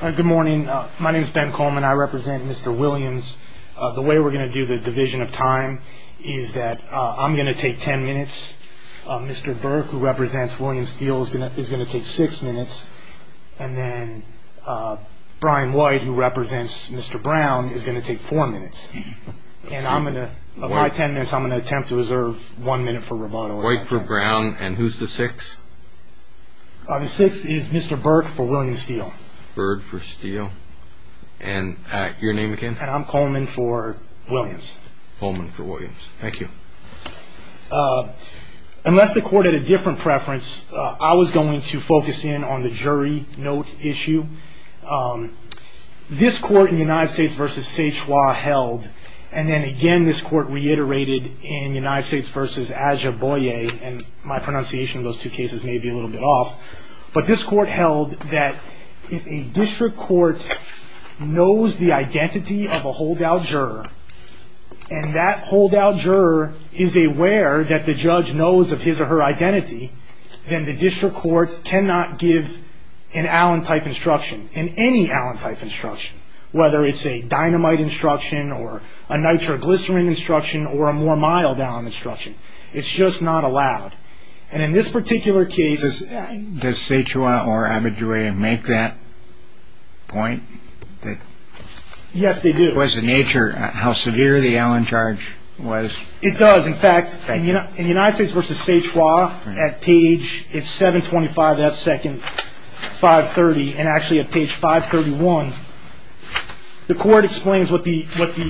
Good morning. My name is Ben Coleman. I represent Mr. Williams. The way we're going to do the division of time is that I'm going to take ten minutes. Mr. Burke, who represents William Steele, is going to take six minutes. And then Brian White, who represents Mr. Brown, is going to take four minutes. And of my ten minutes, I'm going to attempt to reserve one minute for rebuttal. White for Brown, and who's the six? The six is Mr. Burke for William Steele. Bird for Steele. And your name again? And I'm Coleman for Williams. Coleman for Williams. Thank you. Unless the court had a different preference, I was going to focus in on the jury note issue. This court in the United States v. Seichua held, and then again this court reiterated in the United States v. Aja Boye, and my pronunciation of those two cases may be a little bit off, but this court held that if a district court knows the identity of a holdout juror, and that holdout juror is aware that the judge knows of his or her identity, then the district court cannot give an Allen-type instruction, in any Allen-type instruction, whether it's a dynamite instruction or a nitroglycerin instruction or a more mild Allen instruction. It's just not allowed. And in this particular case... Does Seichua or Abajue make that point? Yes, they do. Because of nature, how severe the Allen charge was. It does. In fact, in the United States v. Seichua, at page 725, that second, 530, and actually at page 531, the court explains what the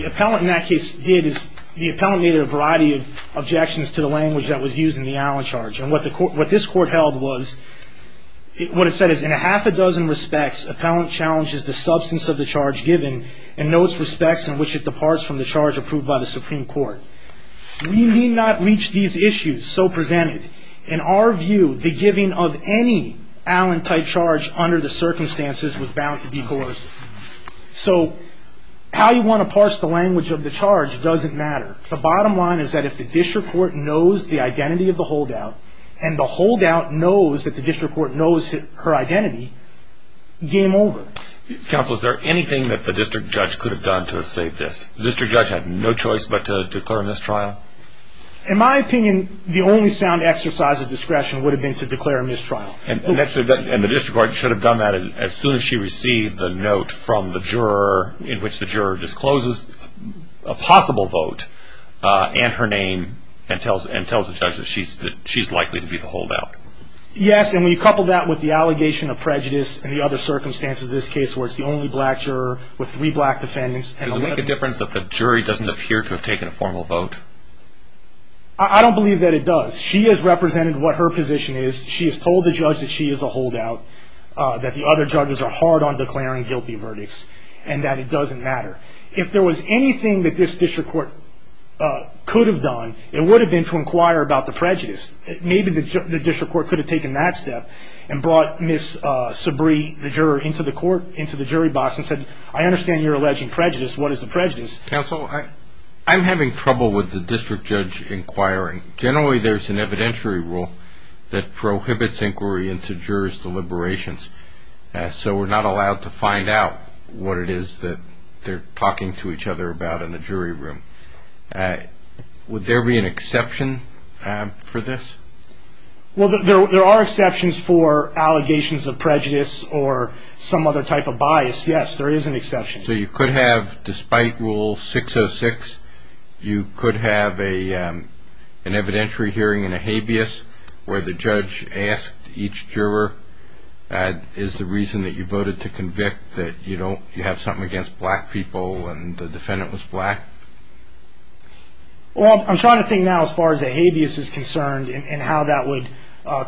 appellant in that case did, is the appellant made a variety of objections to the language that was used in the Allen charge. And what this court held was, what it said is, in a half a dozen respects, appellant challenges the substance of the charge given and notes respects in which it departs from the charge approved by the Supreme Court. We need not reach these issues so presented. In our view, the giving of any Allen-type charge under the circumstances was bound to be coerced. So how you want to parse the language of the charge doesn't matter. The bottom line is that if the district court knows the identity of the holdout and the holdout knows that the district court knows her identity, game over. Counsel, is there anything that the district judge could have done to have saved this? The district judge had no choice but to declare a mistrial? In my opinion, the only sound exercise of discretion would have been to declare a mistrial. And the district court should have done that as soon as she received the note from the juror in which the juror discloses a possible vote and her name and tells the judge that she's likely to be the holdout. Yes, and we couple that with the allegation of prejudice and the other circumstances of this case where it's the only black juror with three black defendants. Does it make a difference that the jury doesn't appear to have taken a formal vote? I don't believe that it does. She has represented what her position is. She has told the judge that she is a holdout, that the other judges are hard on declaring guilty verdicts, and that it doesn't matter. If there was anything that this district court could have done, it would have been to inquire about the prejudice. Maybe the district court could have taken that step and brought Ms. Sabree, the juror, into the court, into the jury box and said, I understand you're alleging prejudice. What is the prejudice? Counsel, I'm having trouble with the district judge inquiring. Generally, there's an evidentiary rule that prohibits inquiry into jurors' deliberations, so we're not allowed to find out what it is that they're talking to each other about in the jury room. Would there be an exception for this? Well, there are exceptions for allegations of prejudice or some other type of bias, yes. There is an exception. So you could have, despite Rule 606, you could have an evidentiary hearing in a habeas where the judge asked each juror is the reason that you voted to convict that you have something against black people and the defendant was black? Well, I'm trying to think now as far as a habeas is concerned and how that would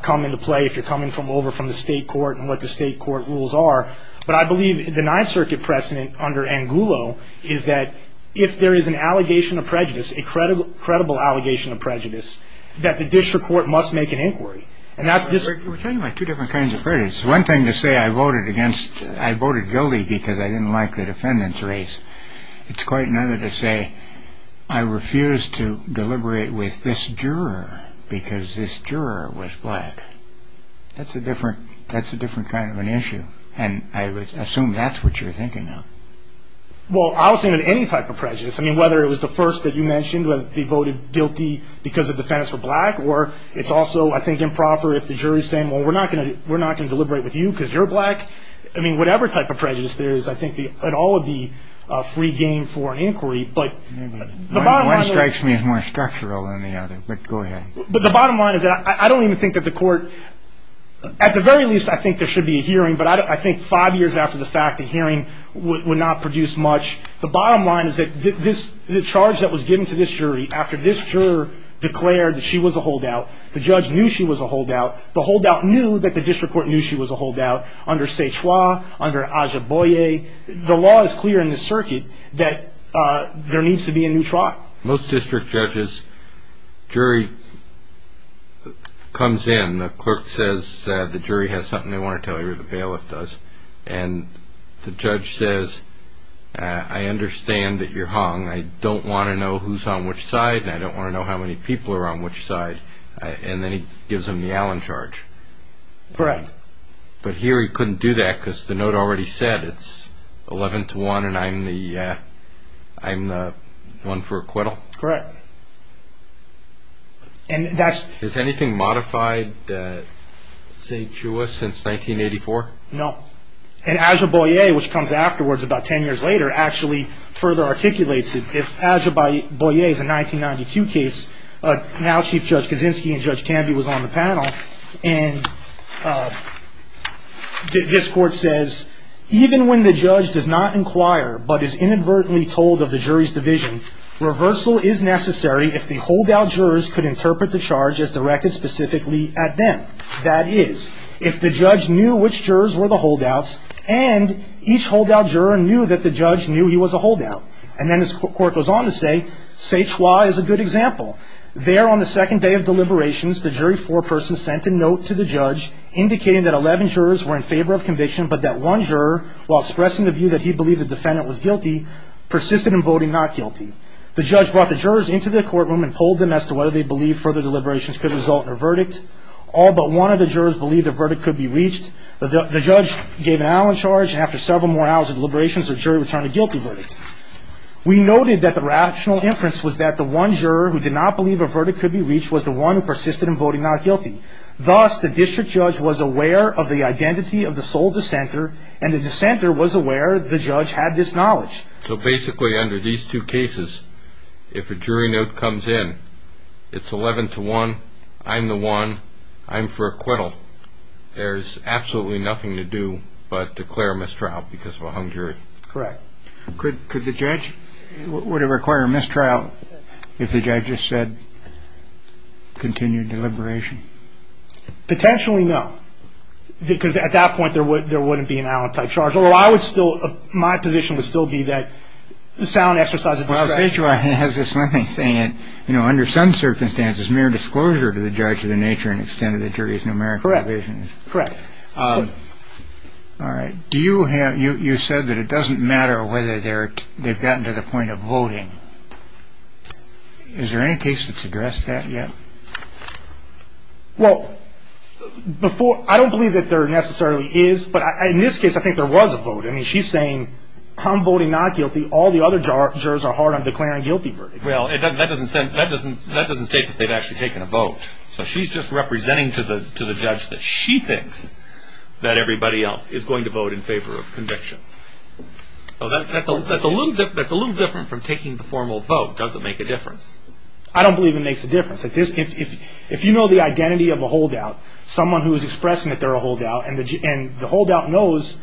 come into play if you're coming over from the state court and what the state court rules are. But I believe the Ninth Circuit precedent under Angulo is that if there is an allegation of prejudice, a credible allegation of prejudice, that the district court must make an inquiry. We're talking about two different kinds of prejudice. One thing to say I voted against, I voted guilty because I didn't like the defendant's race. It's quite another to say I refused to deliberate with this juror because this juror was black. That's a different kind of an issue. And I assume that's what you're thinking now. Well, I'll say that any type of prejudice, I mean, whether it was the first that you mentioned, whether they voted guilty because the defendants were black, or it's also, I think, improper if the jury is saying, well, we're not going to deliberate with you because you're black. I mean, whatever type of prejudice there is, I think it all would be a free game for an inquiry. But the bottom line is. One strikes me as more structural than the other, but go ahead. But the bottom line is that I don't even think that the court, at the very least, I think there should be a hearing, but I think five years after the fact, a hearing would not produce much. The bottom line is that the charge that was given to this jury after this juror declared that she was a holdout, the judge knew she was a holdout, the holdout knew that the district court knew she was a holdout, under Szechua, under Aja Boye, the law is clear in this circuit that there needs to be a new trial. Most district judges, jury comes in. And the clerk says the jury has something they want to tell you or the bailiff does. And the judge says, I understand that you're hung. I don't want to know who's on which side and I don't want to know how many people are on which side. And then he gives them the Allen charge. Correct. But here he couldn't do that because the note already said it's 11 to 1 and I'm the one for acquittal? Correct. Is anything modified at Szechua since 1984? No. And Aja Boye, which comes afterwards about 10 years later, actually further articulates it. If Aja Boye is a 1992 case, now Chief Judge Kaczynski and Judge Canby was on the panel, and this court says, even when the judge does not inquire but is inadvertently told of the jury's division, reversal is necessary if the holdout jurors could interpret the charge as directed specifically at them. That is, if the judge knew which jurors were the holdouts and each holdout juror knew that the judge knew he was a holdout. And then this court goes on to say, Szechua is a good example. There on the second day of deliberations, the jury foreperson sent a note to the judge indicating that 11 jurors were in favor of conviction but that one juror, while expressing the view that he believed the defendant was guilty, persisted in voting not guilty. The judge brought the jurors into the courtroom and told them as to whether they believed further deliberations could result in a verdict. All but one of the jurors believed the verdict could be reached. The judge gave an Allen charge, and after several more hours of deliberations, the jury returned a guilty verdict. We noted that the rational inference was that the one juror who did not believe a verdict could be reached was the one who persisted in voting not guilty. Thus, the district judge was aware of the identity of the sole dissenter, and the dissenter was aware the judge had this knowledge. So basically, under these two cases, if a jury note comes in, it's 11 to 1, I'm the one, I'm for acquittal. There's absolutely nothing to do but declare a mistrial because of a hung jury. Correct. Could the judge – would it require a mistrial if the judge just said, continue deliberation? Potentially, no, because at that point, there wouldn't be an Allen-type charge. Although I would still – my position would still be that the sound exercise of – Well, the H.Y. has this one thing saying that, you know, under some circumstances, mere disclosure to the judge of the nature and extent of the jury is numerical evasion. Correct. Correct. All right. Do you have – you said that it doesn't matter whether they've gotten to the point of voting. Is there any case that's addressed that yet? Well, before – I don't believe that there necessarily is, but in this case, I think there was a vote. I mean, she's saying, I'm voting not guilty. All the other jurors are hard on declaring guilty verdicts. Well, that doesn't state that they've actually taken a vote. So she's just representing to the judge that she thinks that everybody else is going to vote in favor of conviction. That's a little different from taking the formal vote. Does it make a difference? I don't believe it makes a difference. If you know the identity of a holdout, someone who is expressing that they're a holdout, and the holdout knows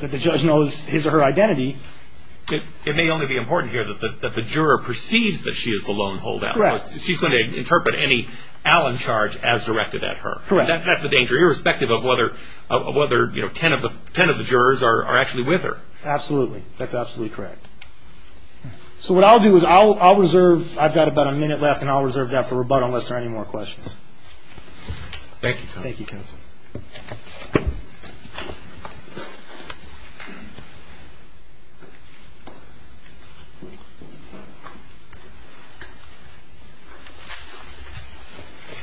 that the judge knows his or her identity – It may only be important here that the juror perceives that she is the lone holdout. Correct. She's going to interpret any Allen charge as directed at her. Correct. That's the danger, irrespective of whether 10 of the jurors are actually with her. Absolutely. That's absolutely correct. So what I'll do is I'll reserve – I've got about a minute left, and I'll reserve that for rebuttal unless there are any more questions. Thank you, counsel. Thank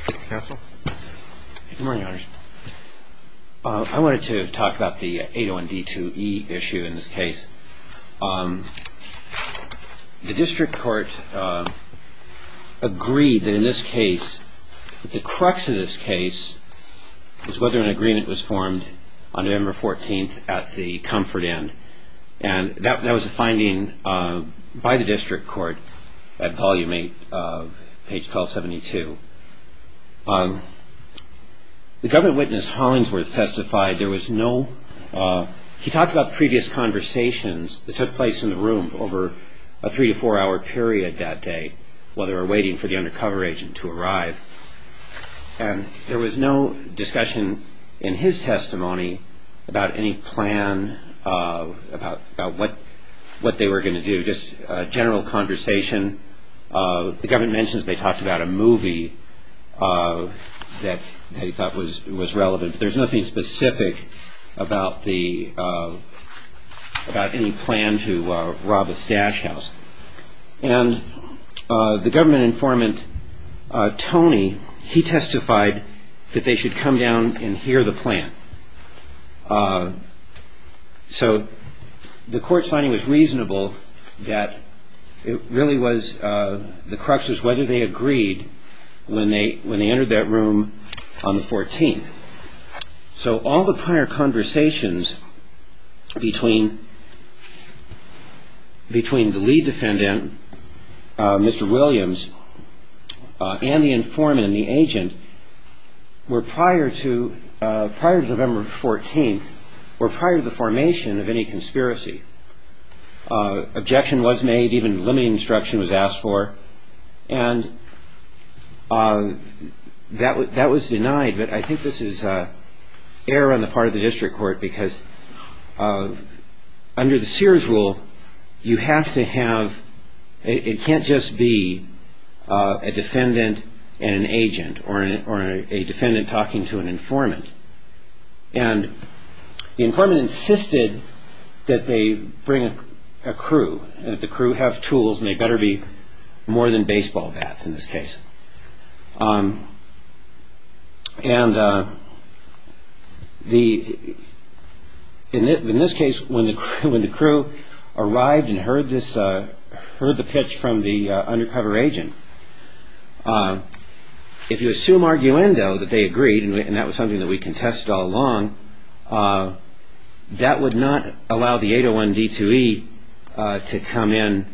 you, counsel. Counsel? Good morning, Your Honor. I wanted to talk about the 801D2E issue in this case. The district court agreed that in this case – that the crux of this case is whether an agreement was formed on November 14th at the Comfort Inn. That was a finding by the district court at Volume 8, page 1272. The government witness Hollingsworth testified there was no – he talked about previous conversations that took place in the room over a three- to four-hour period that day while they were waiting for the undercover agent to arrive. And there was no discussion in his testimony about any plan, about what they were going to do, just a general conversation. The government mentions they talked about a movie that they thought was relevant, but there's nothing specific about any plan to rob a stash house. And the government informant, Tony, he testified that they should come down and hear the plan. So the court's finding was reasonable that it really was – the crux was whether they agreed when they entered that room on the 14th. So all the prior conversations between the lead defendant, Mr. Williams, and the informant and the agent were prior to November 14th, were prior to the formation of any conspiracy. Objection was made, even limiting instruction was asked for, and that was denied. But I think this is error on the part of the district court because under the Sears rule you have to have – it can't just be a defendant and an agent or a defendant talking to an informant. And the informant insisted that they bring a crew, that the crew have tools and they better be more than baseball bats in this case. And in this case, when the crew arrived and heard the pitch from the undercover agent, if you assume arguendo that they agreed, and that was something that we contested all along, that would not allow the 801 D2E to come in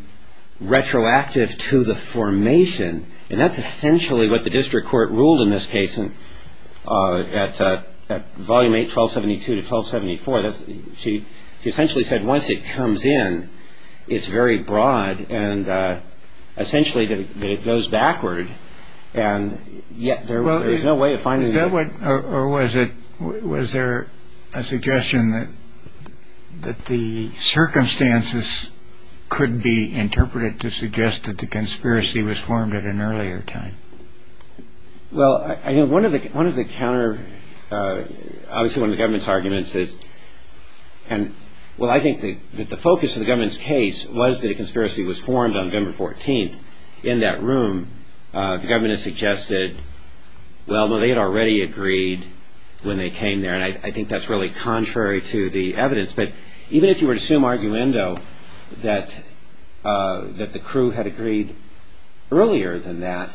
retroactive to the formation. And that's essentially what the district court ruled in this case at Volume 8, 1272 to 1274. She essentially said once it comes in, it's very broad and essentially that it goes backward. And yet there was no way of finding it. Or was there a suggestion that the circumstances could be interpreted to suggest that the conspiracy was formed at an earlier time? Well, I think one of the counter – obviously one of the government's arguments is – well, I think that the focus of the government's case was that a conspiracy was formed on November 14th. In that room, the government has suggested, well, they had already agreed when they came there. And I think that's really contrary to the evidence. But even if you were to assume arguendo that the crew had agreed earlier than that,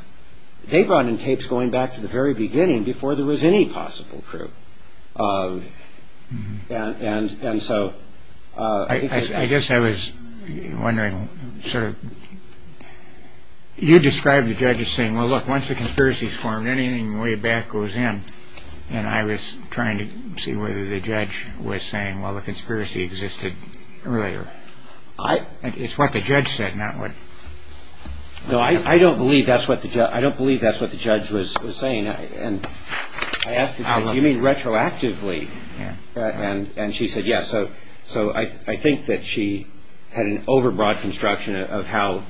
they brought in tapes going back to the very beginning before there was any possible crew. And so – I guess I was wondering, sort of – you described the judge as saying, well, look, once the conspiracy is formed, anything way back goes in. And I was trying to see whether the judge was saying, well, the conspiracy existed earlier. It's what the judge said, not what – No, I don't believe that's what the judge was saying. I asked the judge, do you mean retroactively? And she said yes. So I think that she had an overbroad construction of how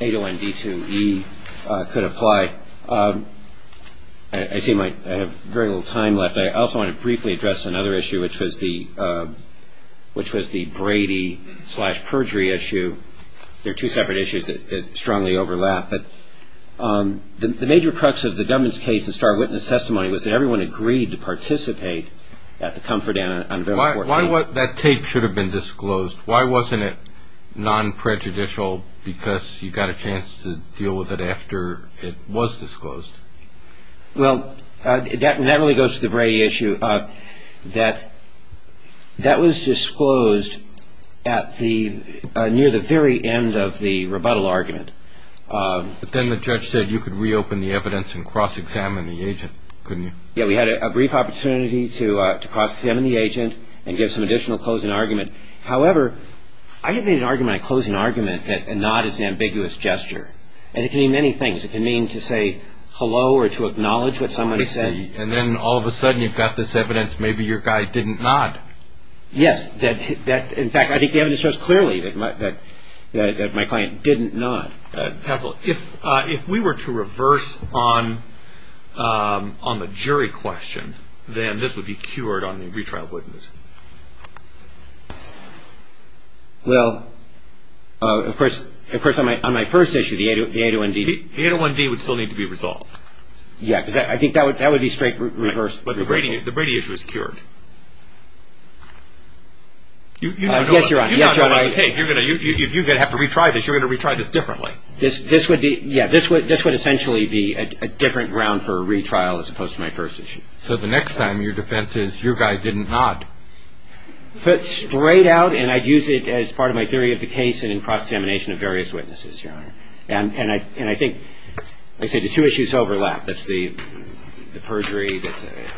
801D2E could apply. I seem like I have very little time left. I also want to briefly address another issue, which was the Brady slash perjury issue. They're two separate issues that strongly overlap. But the major crux of the Dubbins case and Star Witness testimony was that everyone agreed to participate at the Comfort Inn on November 14th. Why was – that tape should have been disclosed. Why wasn't it non-prejudicial because you got a chance to deal with it after it was disclosed? Well, that really goes to the Brady issue. That was disclosed at the – near the very end of the rebuttal argument. But then the judge said you could reopen the evidence and cross-examine the agent, couldn't you? Yeah, we had a brief opportunity to cross-examine the agent and give some additional closing argument. However, I had made an argument, a closing argument, that a nod is an ambiguous gesture. And it can mean many things. It can mean to say hello or to acknowledge what someone said. And then all of a sudden you've got this evidence. Maybe your guy didn't nod. Yes. In fact, I think the evidence shows clearly that my client didn't nod. Counsel, if we were to reverse on the jury question, then this would be cured on the retrial witness. Well, of course, on my first issue, the 801D. The 801D would still need to be resolved. Yeah, because I think that would be straight reversal. But the Brady issue is cured. Yes, Your Honor. You're going to have to retry this. You're going to retry this differently. This would be – yeah, this would essentially be a different ground for a retrial as opposed to my first issue. So the next time your defense is your guy didn't nod. Straight out, and I'd use it as part of my theory of the case and in cross-examination of various witnesses, Your Honor. And I think, like I said, the two issues overlap. That's the perjury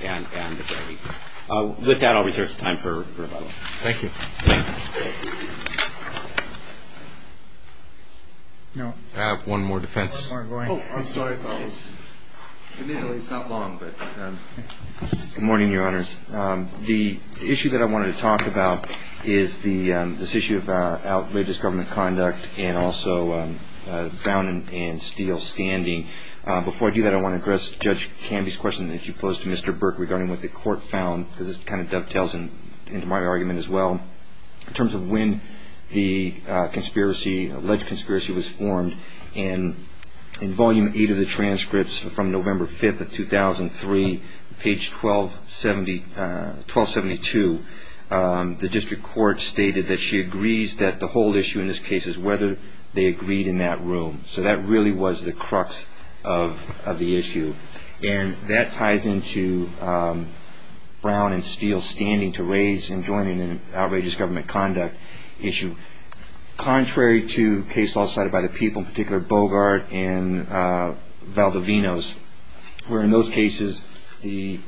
and the Brady. With that, I'll reserve some time for rebuttal. Thank you. Thank you. I have one more defense. Oh, I'm sorry. Good morning, Your Honors. The issue that I wanted to talk about is this issue of outrageous government conduct and also found and steel standing. Before I do that, I want to address Judge Canby's question that she posed to Mr. Burke regarding what the court found, because this kind of dovetails into my argument as well. In terms of when the alleged conspiracy was formed, in Volume 8 of the transcripts from November 5th of 2003, page 1272, the district court stated that she agrees that the whole issue in this case is whether they agreed in that room. So that really was the crux of the issue. And that ties into Brown and Steele standing to raise enjoyment in an outrageous government conduct issue. Contrary to cases also cited by the people, in particular Bogart and Valdovinos, where in those cases the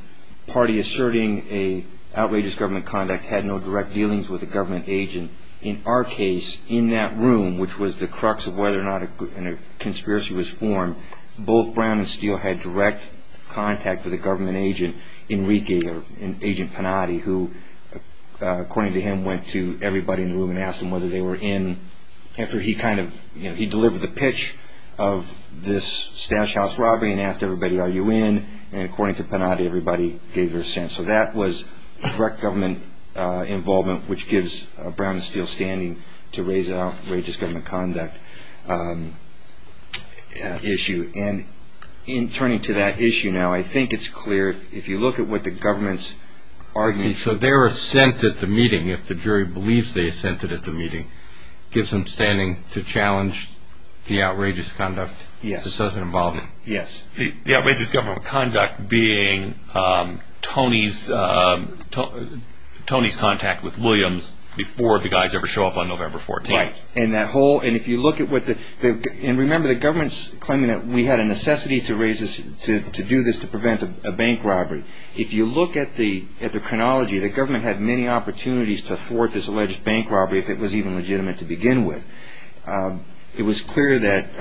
party asserting an outrageous government conduct had no direct dealings with a government agent. In our case, in that room, which was the crux of whether or not a conspiracy was formed, both Brown and Steele had direct contact with a government agent, Enrique, or Agent Panatti, who, according to him, went to everybody in the room and asked them whether they were in. He delivered the pitch of this stash house robbery and asked everybody, Are you in? And according to Panatti, everybody gave their assent. So that was direct government involvement, which gives Brown and Steele standing to raise an outrageous government conduct issue. And in turning to that issue now, I think it's clear, if you look at what the government's argument... So their assent at the meeting, if the jury believes they assented at the meeting, gives them standing to challenge the outrageous conduct that does involve them. Yes. The outrageous government conduct being Tony's contact with Williams before the guys ever show up on November 14th. Right. And that whole... And if you look at what the... And remember, the government's claiming that we had a necessity to do this to prevent a bank robbery. If you look at the chronology, the government had many opportunities to thwart this alleged bank robbery if it was even legitimate to begin with. It was clear that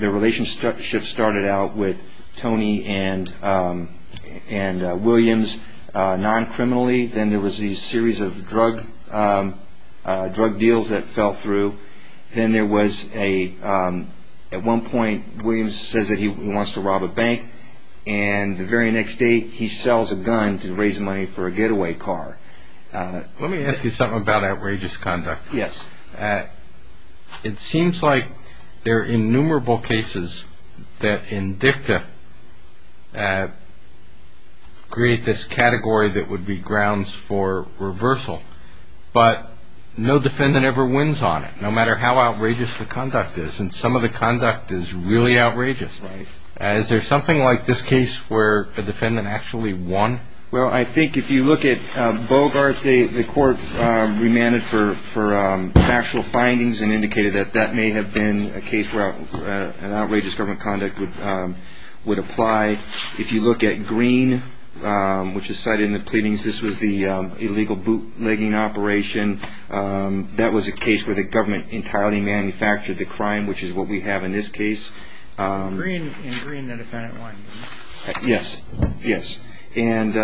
the relationship started out with Tony and Williams non-criminally. Then there was these series of drug deals that fell through. Then there was a... And the very next day, he sells a gun to raise money for a getaway car. Let me ask you something about outrageous conduct. Yes. It seems like there are innumerable cases that in dicta create this category that would be grounds for reversal. But no defendant ever wins on it, no matter how outrageous the conduct is. And some of the conduct is really outrageous. Right. Is there something like this case where a defendant actually won? Well, I think if you look at Bogart, the court remanded for factual findings and indicated that that may have been a case where an outrageous government conduct would apply. If you look at Greene, which is cited in the pleadings, this was the illegal bootlegging operation. That was a case where the government entirely manufactured the crime, which is what we have in this case. In Greene, the defendant won. Yes, yes. And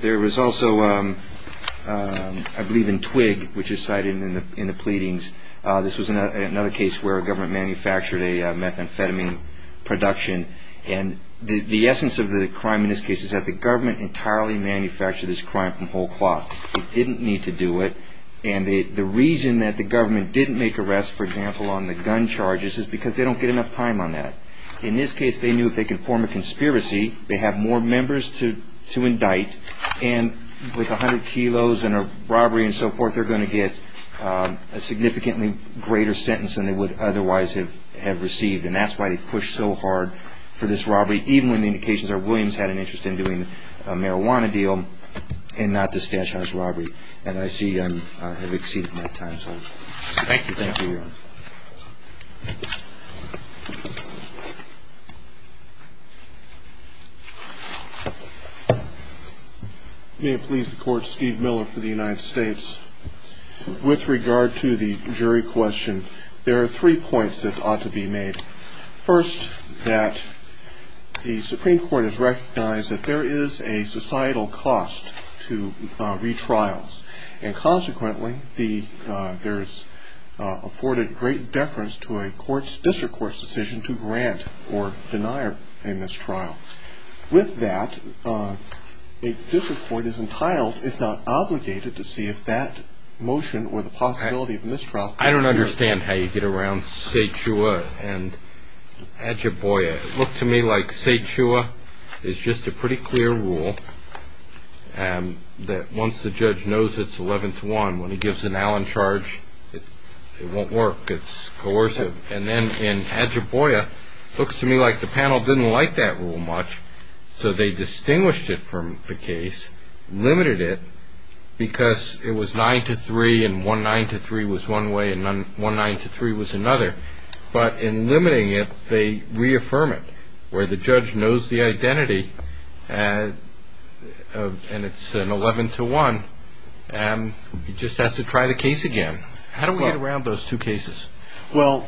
there was also, I believe, in Twigg, which is cited in the pleadings, this was another case where a government manufactured a methamphetamine production. And the essence of the crime in this case is that the government entirely manufactured this crime from whole cloth. It didn't need to do it. And the reason that the government didn't make arrests, for example, on the gun charges, is because they don't get enough time on that. In this case, they knew if they could form a conspiracy, they have more members to indict, and with 100 kilos and a robbery and so forth, they're going to get a significantly greater sentence than they would otherwise have received. And that's why they pushed so hard for this robbery, even when the indications are Williams had an interest in doing a marijuana deal and not the Stash House robbery. And I see I have exceeded my time. Thank you. Thank you. May it please the Court. Steve Miller for the United States. With regard to the jury question, there are three points that ought to be made. First, that the Supreme Court has recognized that there is a societal cost to retrials. And consequently, there's afforded great deference to a district court's decision to grant or deny a mistrial. With that, a district court is entitled, if not obligated, to see if that motion or the possibility of mistrial. Well, I don't understand how you get around Cetua and Adjuboya. It looked to me like Cetua is just a pretty clear rule that once the judge knows it's 11-1, when he gives an Allen charge, it won't work. It's coercive. And then in Adjuboya, it looks to me like the panel didn't like that rule much, so they distinguished it from the case, limited it because it was 9-3 and 1-9-3 was one way and 1-9-3 was another. But in limiting it, they reaffirm it, where the judge knows the identity and it's an 11-1, and he just has to try the case again. How do we get around those two cases? Well,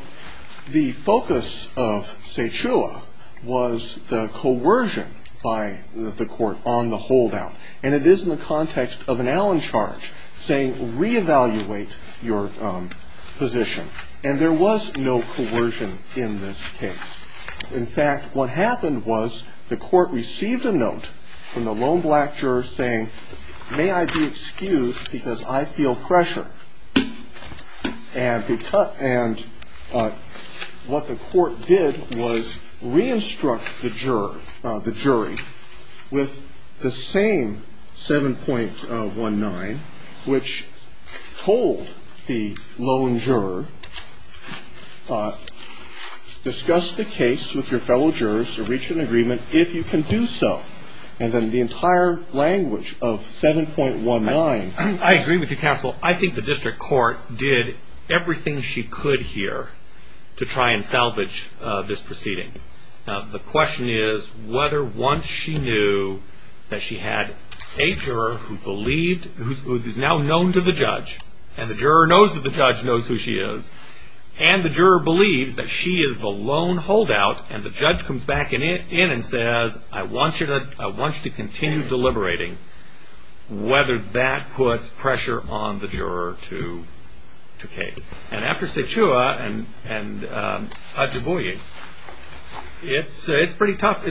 the focus of Cetua was the coercion by the court on the holdout, and it is in the context of an Allen charge saying re-evaluate your position. And there was no coercion in this case. In fact, what happened was the court received a note from the lone black juror saying, may I be excused because I feel pressure. And what the court did was re-instruct the jury with the same 7.19, which told the lone juror discuss the case with your fellow jurors or reach an agreement if you can do so. And then the entire language of 7.19. I agree with you, counsel. I think the district court did everything she could here to try and salvage this proceeding. The question is whether once she knew that she had a juror who is now known to the judge, and the juror knows that the judge knows who she is, and the juror believes that she is the lone holdout, and the judge comes back in and says, I want you to continue deliberating, whether that puts pressure on the juror to cape. And after Sechua and Ojibwe, it's pretty tough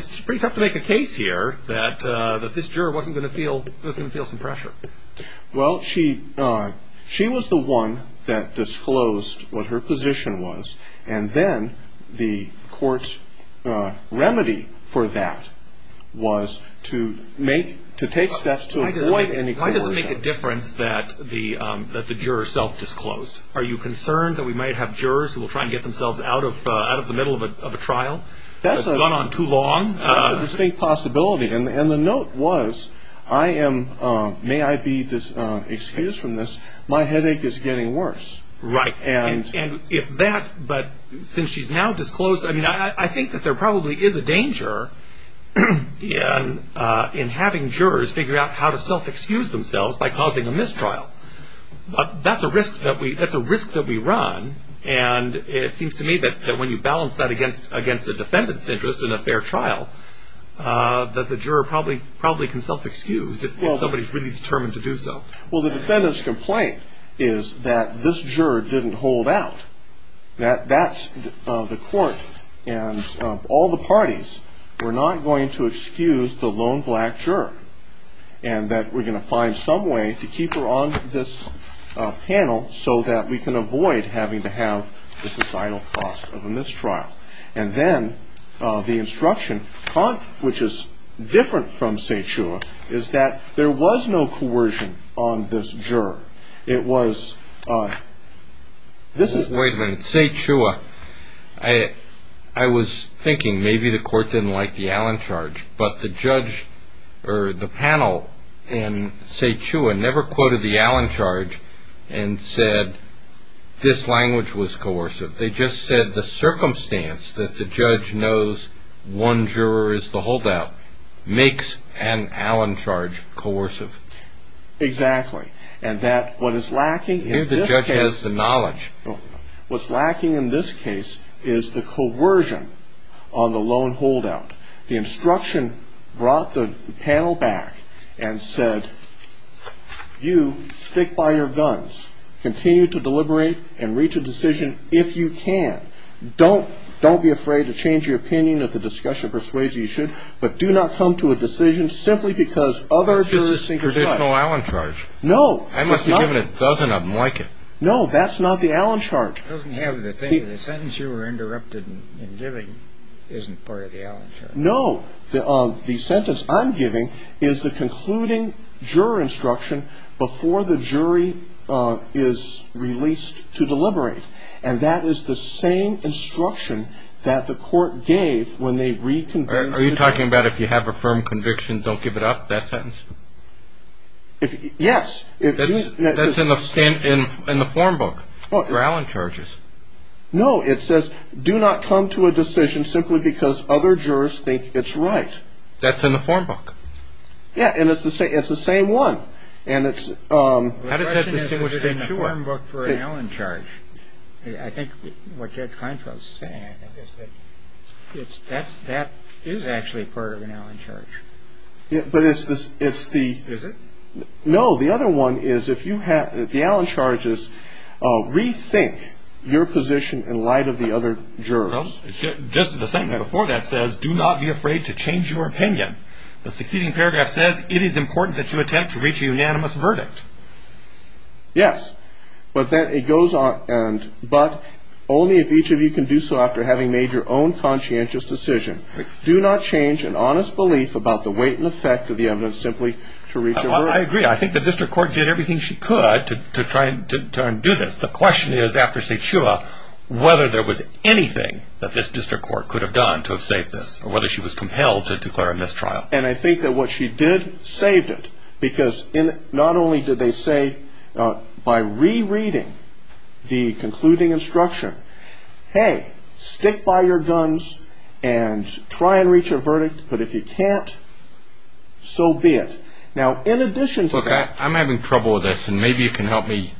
to make a case here that this juror wasn't going to feel some pressure. Well, she was the one that disclosed what her position was, and then the court's remedy for that was to take steps to avoid any court. Why does it make a difference that the juror self-disclosed? Are you concerned that we might have jurors who will try and get themselves out of the middle of a trial? It's gone on too long. That's a distinct possibility. And the note was, may I be excused from this, my headache is getting worse. Right, and if that, but since she's now disclosed, I think that there probably is a danger in having jurors figure out how to self-excuse themselves by causing a mistrial. But that's a risk that we run, and it seems to me that when you balance that against a defendant's interest in a fair trial, that the juror probably can self-excuse if somebody's really determined to do so. Well, the defendant's complaint is that this juror didn't hold out, that that's the court and all the parties were not going to excuse the lone black juror, and that we're going to find some way to keep her on this panel so that we can avoid having to have the societal cost of a mistrial. And then the instruction, which is different from Sze Chua, is that there was no coercion on this juror. It was, this is. Wait a minute, Sze Chua, I was thinking maybe the court didn't like the Allen charge, but the judge or the panel in Sze Chua never quoted the Allen charge and said this language was coercive. They just said the circumstance that the judge knows one juror is the holdout makes an Allen charge coercive. Exactly. And that what is lacking in this case. Maybe the judge has the knowledge. What's lacking in this case is the coercion on the lone holdout. The instruction brought the panel back and said, You stick by your guns. Continue to deliberate and reach a decision if you can. Don't be afraid to change your opinion if the discussion persuades you you should, but do not come to a decision simply because other jurors think it's right. It's just a traditional Allen charge. No. I must have given a dozen of them like it. No, that's not the Allen charge. It doesn't have the thing, the sentence you were interrupted in giving isn't part of the Allen charge. No. The sentence I'm giving is the concluding juror instruction before the jury is released to deliberate. And that is the same instruction that the court gave when they reconvened. Are you talking about if you have a firm conviction, don't give it up, that sentence? Yes. That's in the form book for Allen charges. No, it says do not come to a decision simply because other jurors think it's right. That's in the form book. Yeah. And it's the same one. And it's. How does that distinguish it in the form book for an Allen charge? I think what Judge Heinkel is saying is that that is actually part of an Allen charge. But it's the. Is it? No. The other one is if you have the Allen charges, rethink your position in light of the other jurors. Just the sentence before that says do not be afraid to change your opinion. The succeeding paragraph says it is important that you attempt to reach a unanimous verdict. Yes. But then it goes on. But only if each of you can do so after having made your own conscientious decision. Do not change an honest belief about the weight and effect of the evidence simply to reach a verdict. I agree. I think the district court did everything she could to try and do this. The question is after St. Shua whether there was anything that this district court could have done to have saved this. Or whether she was compelled to declare a mistrial. And I think that what she did saved it. Because not only did they say by rereading the concluding instruction, hey, stick by your guns and try and reach a verdict. But if you can't, so be it. Now, in addition to that. Look, I'm having trouble with this and maybe you can help me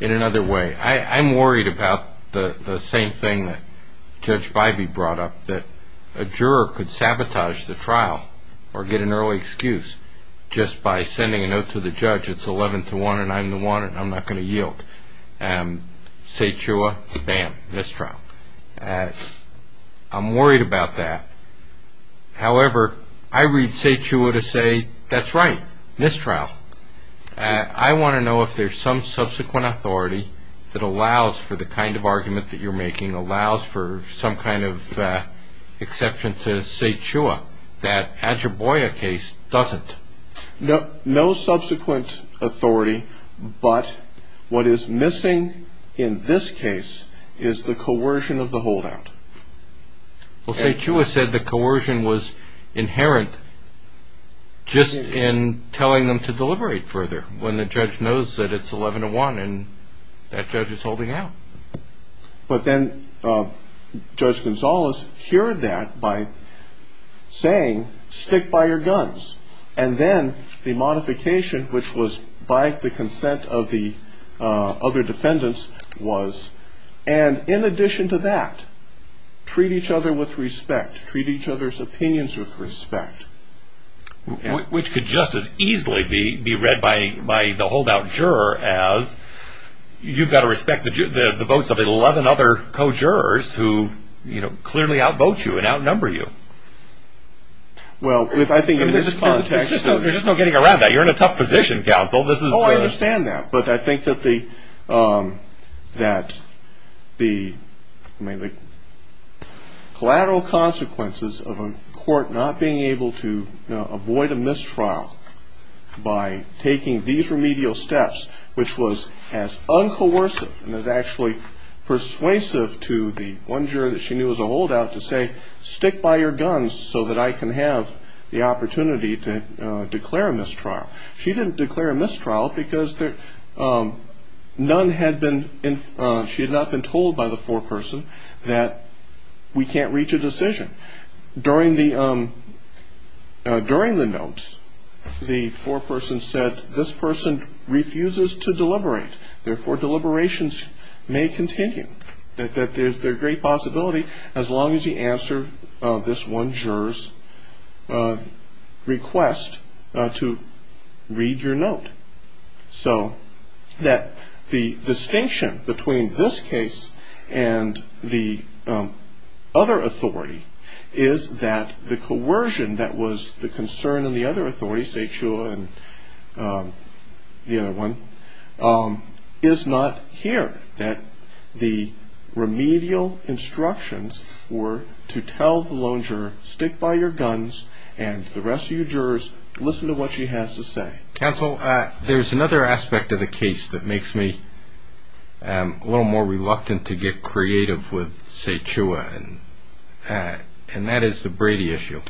in another way. I'm worried about the same thing that Judge Bybee brought up. That a juror could sabotage the trial or get an early excuse just by sending a note to the judge. It's 11 to 1 and I'm the one and I'm not going to yield. St. Shua, bam, mistrial. I'm worried about that. However, I read St. Shua to say that's right, mistrial. I want to know if there's some subsequent authority that allows for the kind of argument that you're making. Allows for some kind of exception to St. Shua. That Ajaboya case doesn't. No subsequent authority. But what is missing in this case is the coercion of the holdout. Well, St. Shua said the coercion was inherent just in telling them to deliberate further when the judge knows that it's 11 to 1 and that judge is holding out. But then Judge Gonzales cured that by saying, stick by your guns. And then the modification, which was by the consent of the other defendants, was, and in addition to that, treat each other with respect. Treat each other's opinions with respect. Which could just as easily be read by the holdout juror as, you've got to respect the votes of 11 other co-jurors who clearly outvote you and outnumber you. Well, I think in this context. There's just no getting around that. You're in a tough position, counsel. Oh, I understand that. But I think that the collateral consequences of a court not being able to avoid a mistrial by taking these remedial steps, which was as uncoercive and as actually persuasive to the one juror that she knew as a holdout to say, stick by your guns so that I can have the opportunity to declare a mistrial. She didn't declare a mistrial because none had been, she had not been told by the foreperson that we can't reach a decision. During the notes, the foreperson said, this person refuses to deliberate. Therefore, deliberations may continue. There's a great possibility as long as the answer of this one juror's request to read your note. So that the distinction between this case and the other authority is that the coercion that was the concern in the other authority, and the other one, is not here. That the remedial instructions were to tell the lone juror, stick by your guns, and the rest of your jurors, listen to what she has to say. Counsel, there's another aspect of the case that makes me a little more reluctant to get creative with Sae Chua, and that is the Brady issue.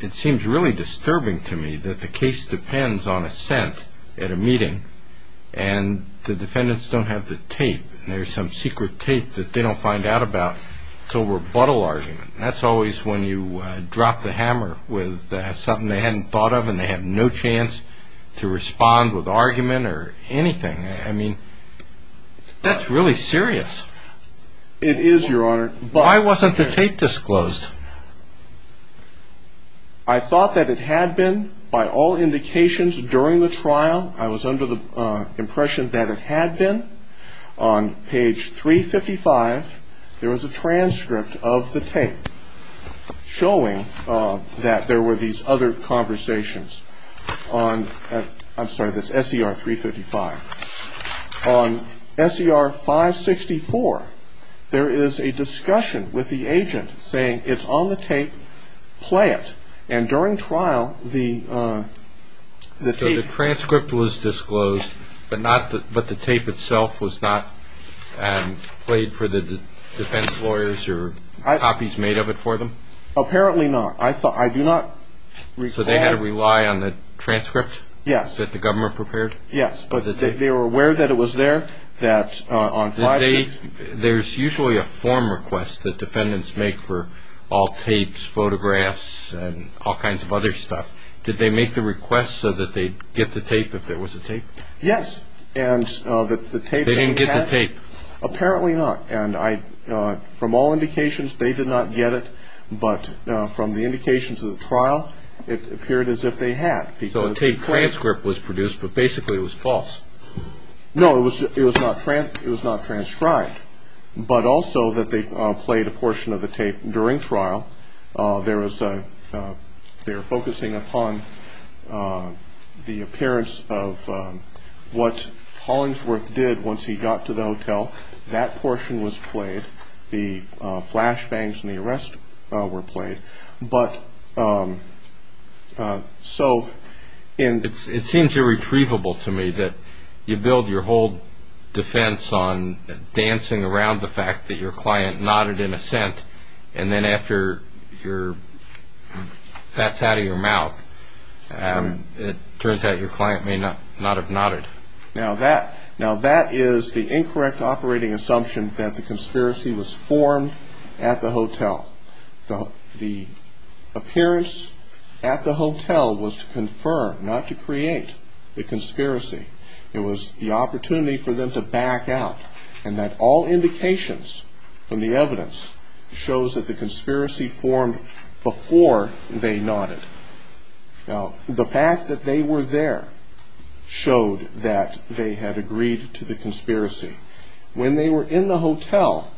It seems really disturbing to me that the case depends on assent at a meeting, and the defendants don't have the tape, and there's some secret tape that they don't find out about until rebuttal argument. That's always when you drop the hammer with something they hadn't thought of, and they have no chance to respond with argument or anything. I mean, that's really serious. It is, Your Honor. Why wasn't the tape disclosed? I thought that it had been by all indications during the trial. I was under the impression that it had been. On page 355, there was a transcript of the tape showing that there were these other conversations. I'm sorry, that's S.E.R. 355. On S.E.R. 564, there is a discussion with the agent saying it's on the tape. Play it. And during trial, the tape was disclosed, but the tape itself was not played for the defense lawyers or copies made of it for them? Apparently not. I do not recall. So they had to rely on the transcript that the government prepared? Yes, but they were aware that it was there, that on 564. There's usually a form request that defendants make for all tapes, photographs, and all kinds of other stuff. Did they make the request so that they'd get the tape if there was a tape? Yes. They didn't get the tape? Apparently not. And from all indications, they did not get it. But from the indications of the trial, it appeared as if they had. So a tape transcript was produced, but basically it was false? No, it was not transcribed. But also that they played a portion of the tape during trial. They're focusing upon the appearance of what Hollingsworth did once he got to the hotel. That portion was played. The flashbangs and the arrest were played. It seems irretrievable to me that you build your whole defense on dancing around the fact that your client nodded in assent, and then after that's out of your mouth, it turns out your client may not have nodded. Now that is the incorrect operating assumption that the conspiracy was formed at the hotel. The appearance at the hotel was to confirm, not to create, the conspiracy. It was the opportunity for them to back out, and that all indications from the evidence shows that the conspiracy formed before they nodded. Now, the fact that they were there showed that they had agreed to the conspiracy. When they were in the hotel,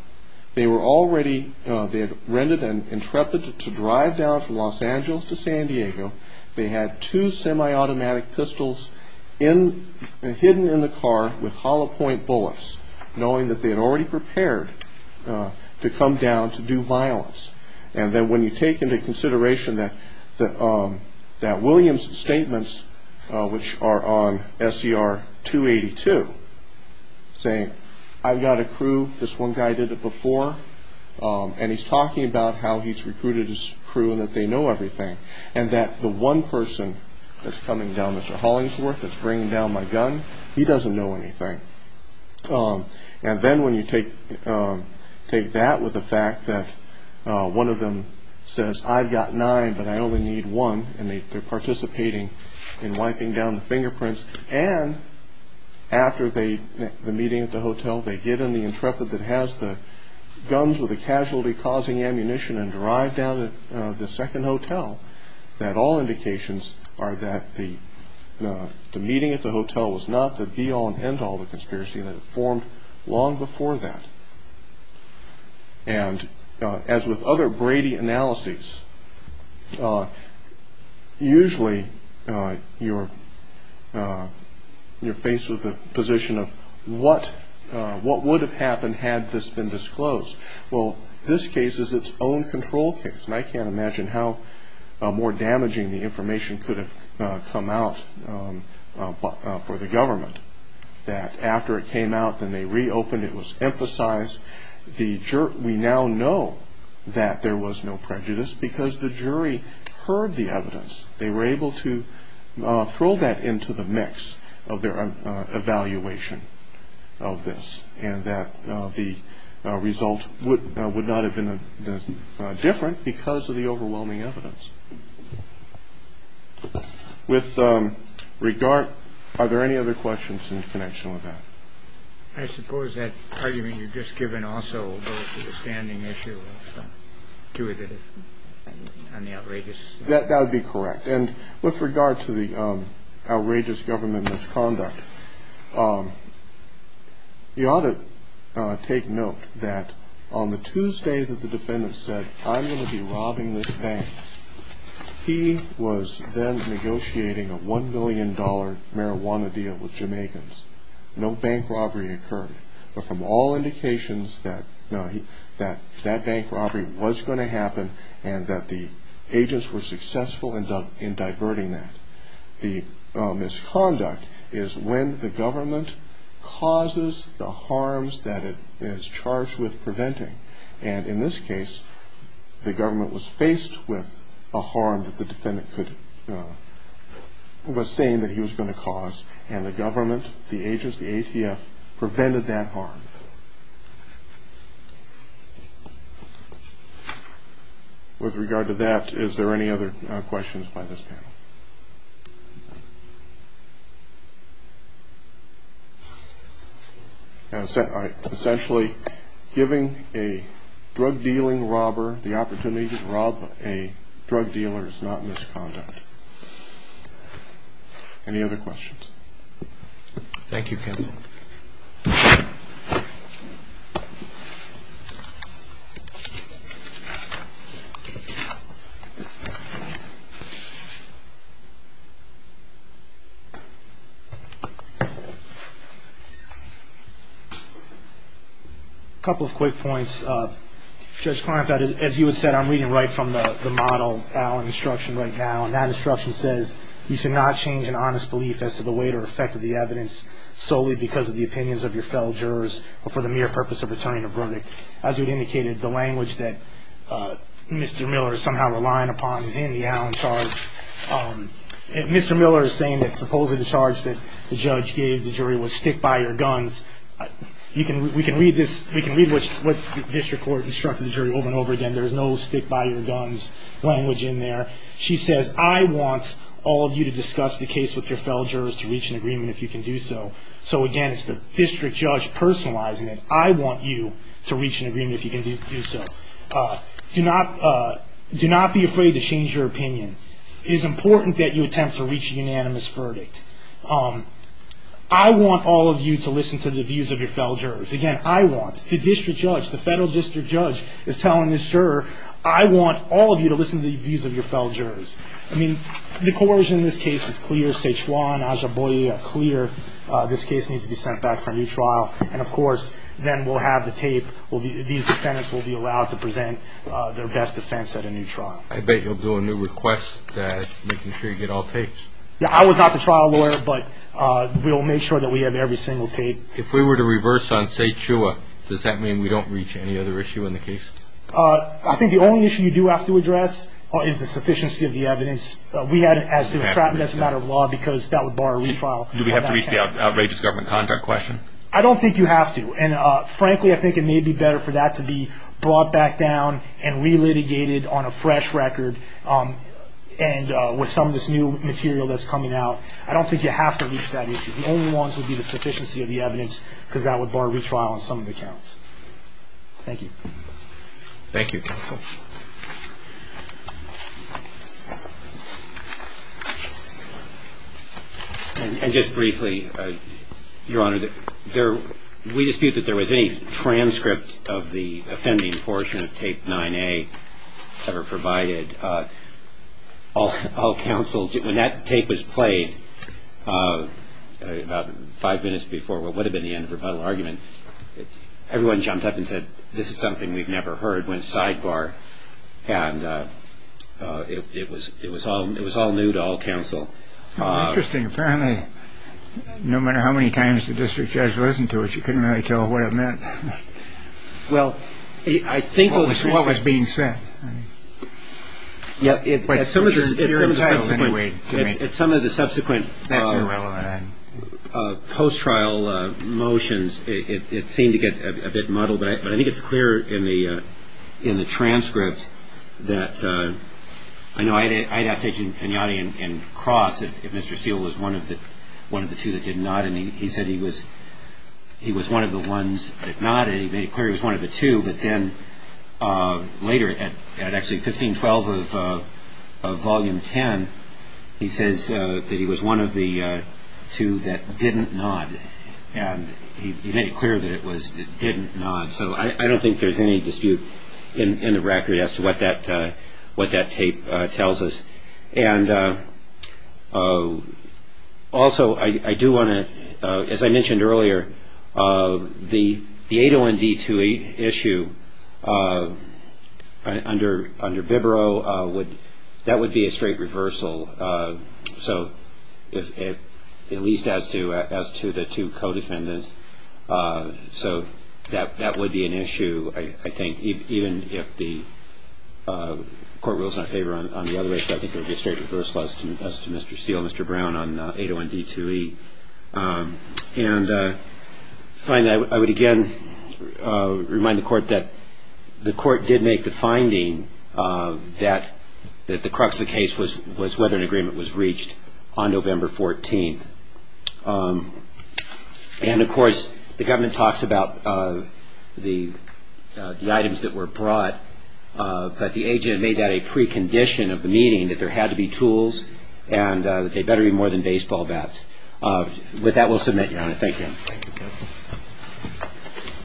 they had rented an Intrepid to drive down from Los Angeles to San Diego. They had two semi-automatic pistols hidden in the car with hollow-point bullets, knowing that they had already prepared to come down to do violence. And then when you take into consideration that Williams' statements, which are on SCR 282, saying, I've got a crew, this one guy did it before, and he's talking about how he's recruited his crew and that they know everything, and that the one person that's coming down, Mr. Hollingsworth, that's bringing down my gun, he doesn't know anything. And then when you take that with the fact that one of them says, I've got nine, but I only need one, and they're participating in wiping down the fingerprints, and after the meeting at the hotel, they get in the Intrepid that has the guns with the casualty-causing ammunition and drive down to the second hotel, that all indications are that the meeting at the hotel was not the be-all and end-all of the conspiracy that had formed long before that. And as with other Brady analyses, usually you're faced with the position of what would have happened had this been disclosed. Well, this case is its own control case, and I can't imagine how more damaging the information could have come out for the government, that after it came out, then they reopened, it was emphasized. We now know that there was no prejudice because the jury heard the evidence. They were able to throw that into the mix of their evaluation of this, and that the result would not have been different because of the overwhelming evidence. With regard, are there any other questions in connection with that? I suppose that argument you've just given also goes to the standing issue of intuitive and the outrageous. That would be correct, and with regard to the outrageous government misconduct, you ought to take note that on the Tuesday that the defendant said, I'm going to be robbing this bank, he was then negotiating a $1 million marijuana deal with Jamaicans. No bank robbery occurred, but from all indications that that bank robbery was going to happen and that the agents were successful in diverting that. The misconduct is when the government causes the harms that it is charged with preventing, and in this case, the government was faced with a harm that the defendant was saying that he was going to cause, and the government, the agents, the ATF, prevented that harm. With regard to that, is there any other questions by this panel? Essentially, giving a drug dealing robber the opportunity to rob a drug dealer is not misconduct. Any other questions? A couple of quick points. Judge Kleinfeld, as you had said, I'm reading right from the model instruction right now, and that instruction says you should not change an honest belief as to the weight or effect of the evidence that Mr. Miller is somehow relying upon is in the Allen charge. Mr. Miller is saying that supposedly the charge that the judge gave the jury was stick-by-your-guns. We can read what district court instructed the jury over and over again. There is no stick-by-your-guns language in there. She says, I want all of you to discuss the case with your fellow jurors to reach an agreement if you can do so. So, again, it's the district judge personalizing it. I want you to reach an agreement if you can do so. Do not be afraid to change your opinion. It is important that you attempt to reach a unanimous verdict. I want all of you to listen to the views of your fellow jurors. Again, I want, the district judge, the federal district judge is telling this juror, I want all of you to listen to the views of your fellow jurors. I mean, the coercion in this case is clear. This case needs to be sent back for a new trial. And, of course, then we'll have the tape. These defendants will be allowed to present their best defense at a new trial. I bet you'll do a new request, making sure you get all tapes. I was not the trial lawyer, but we'll make sure that we have every single tape. If we were to reverse on Seichua, does that mean we don't reach any other issue in the case? I think the only issue you do have to address is the sufficiency of the evidence. Do we have to reach the outrageous government contract question? I don't think you have to. And, frankly, I think it may be better for that to be brought back down and re-litigated on a fresh record, and with some of this new material that's coming out. I don't think you have to reach that issue. The only ones would be the sufficiency of the evidence, because that would bar retrial on some of the counts. Thank you. Thank you, counsel. And just briefly, Your Honor, we dispute that there was any transcript of the offending portion of Tape 9A ever provided. When that tape was played, about five minutes before what would have been the end of the rebuttal argument, everyone jumped up and said, this is something we've never heard, went sidebar, and it was all new to all counsel. Interesting. Apparently, no matter how many times the district judge listened to it, you couldn't really tell what it meant. Well, I think what was being said. At some of the subsequent post-trial motions, it seemed to get a bit muddled. But I think it's clear in the transcript that, I know I had asked Agent Pagnotti and Cross if Mr. Steele was one of the two that did not, and he said he was one of the ones that nodded. He made it clear he was one of the two. But then later, at actually 1512 of Volume 10, he says that he was one of the two that didn't nod. And he made it clear that it was the didn't nod. So I don't think there's any dispute in the record as to what that tape tells us. And also, I do want to, as I mentioned earlier, the 801D2 issue under Bibro, that would be a straight reversal, at least as to the two co-defendants. So that would be an issue, I think, even if the court rules in our favor on the other issue. I think it would be a straight reversal as to Mr. Steele, Mr. Brown on 801D2E. And finally, I would again remind the Court that the Court did make the finding that the crux of the case was whether an agreement was reached on November 14th. And of course, the government talks about the items that were brought, but the agent made that a precondition of the meeting, that they better be tools and they better be more than baseball bats. With that, we'll submit, Your Honor. Thank you.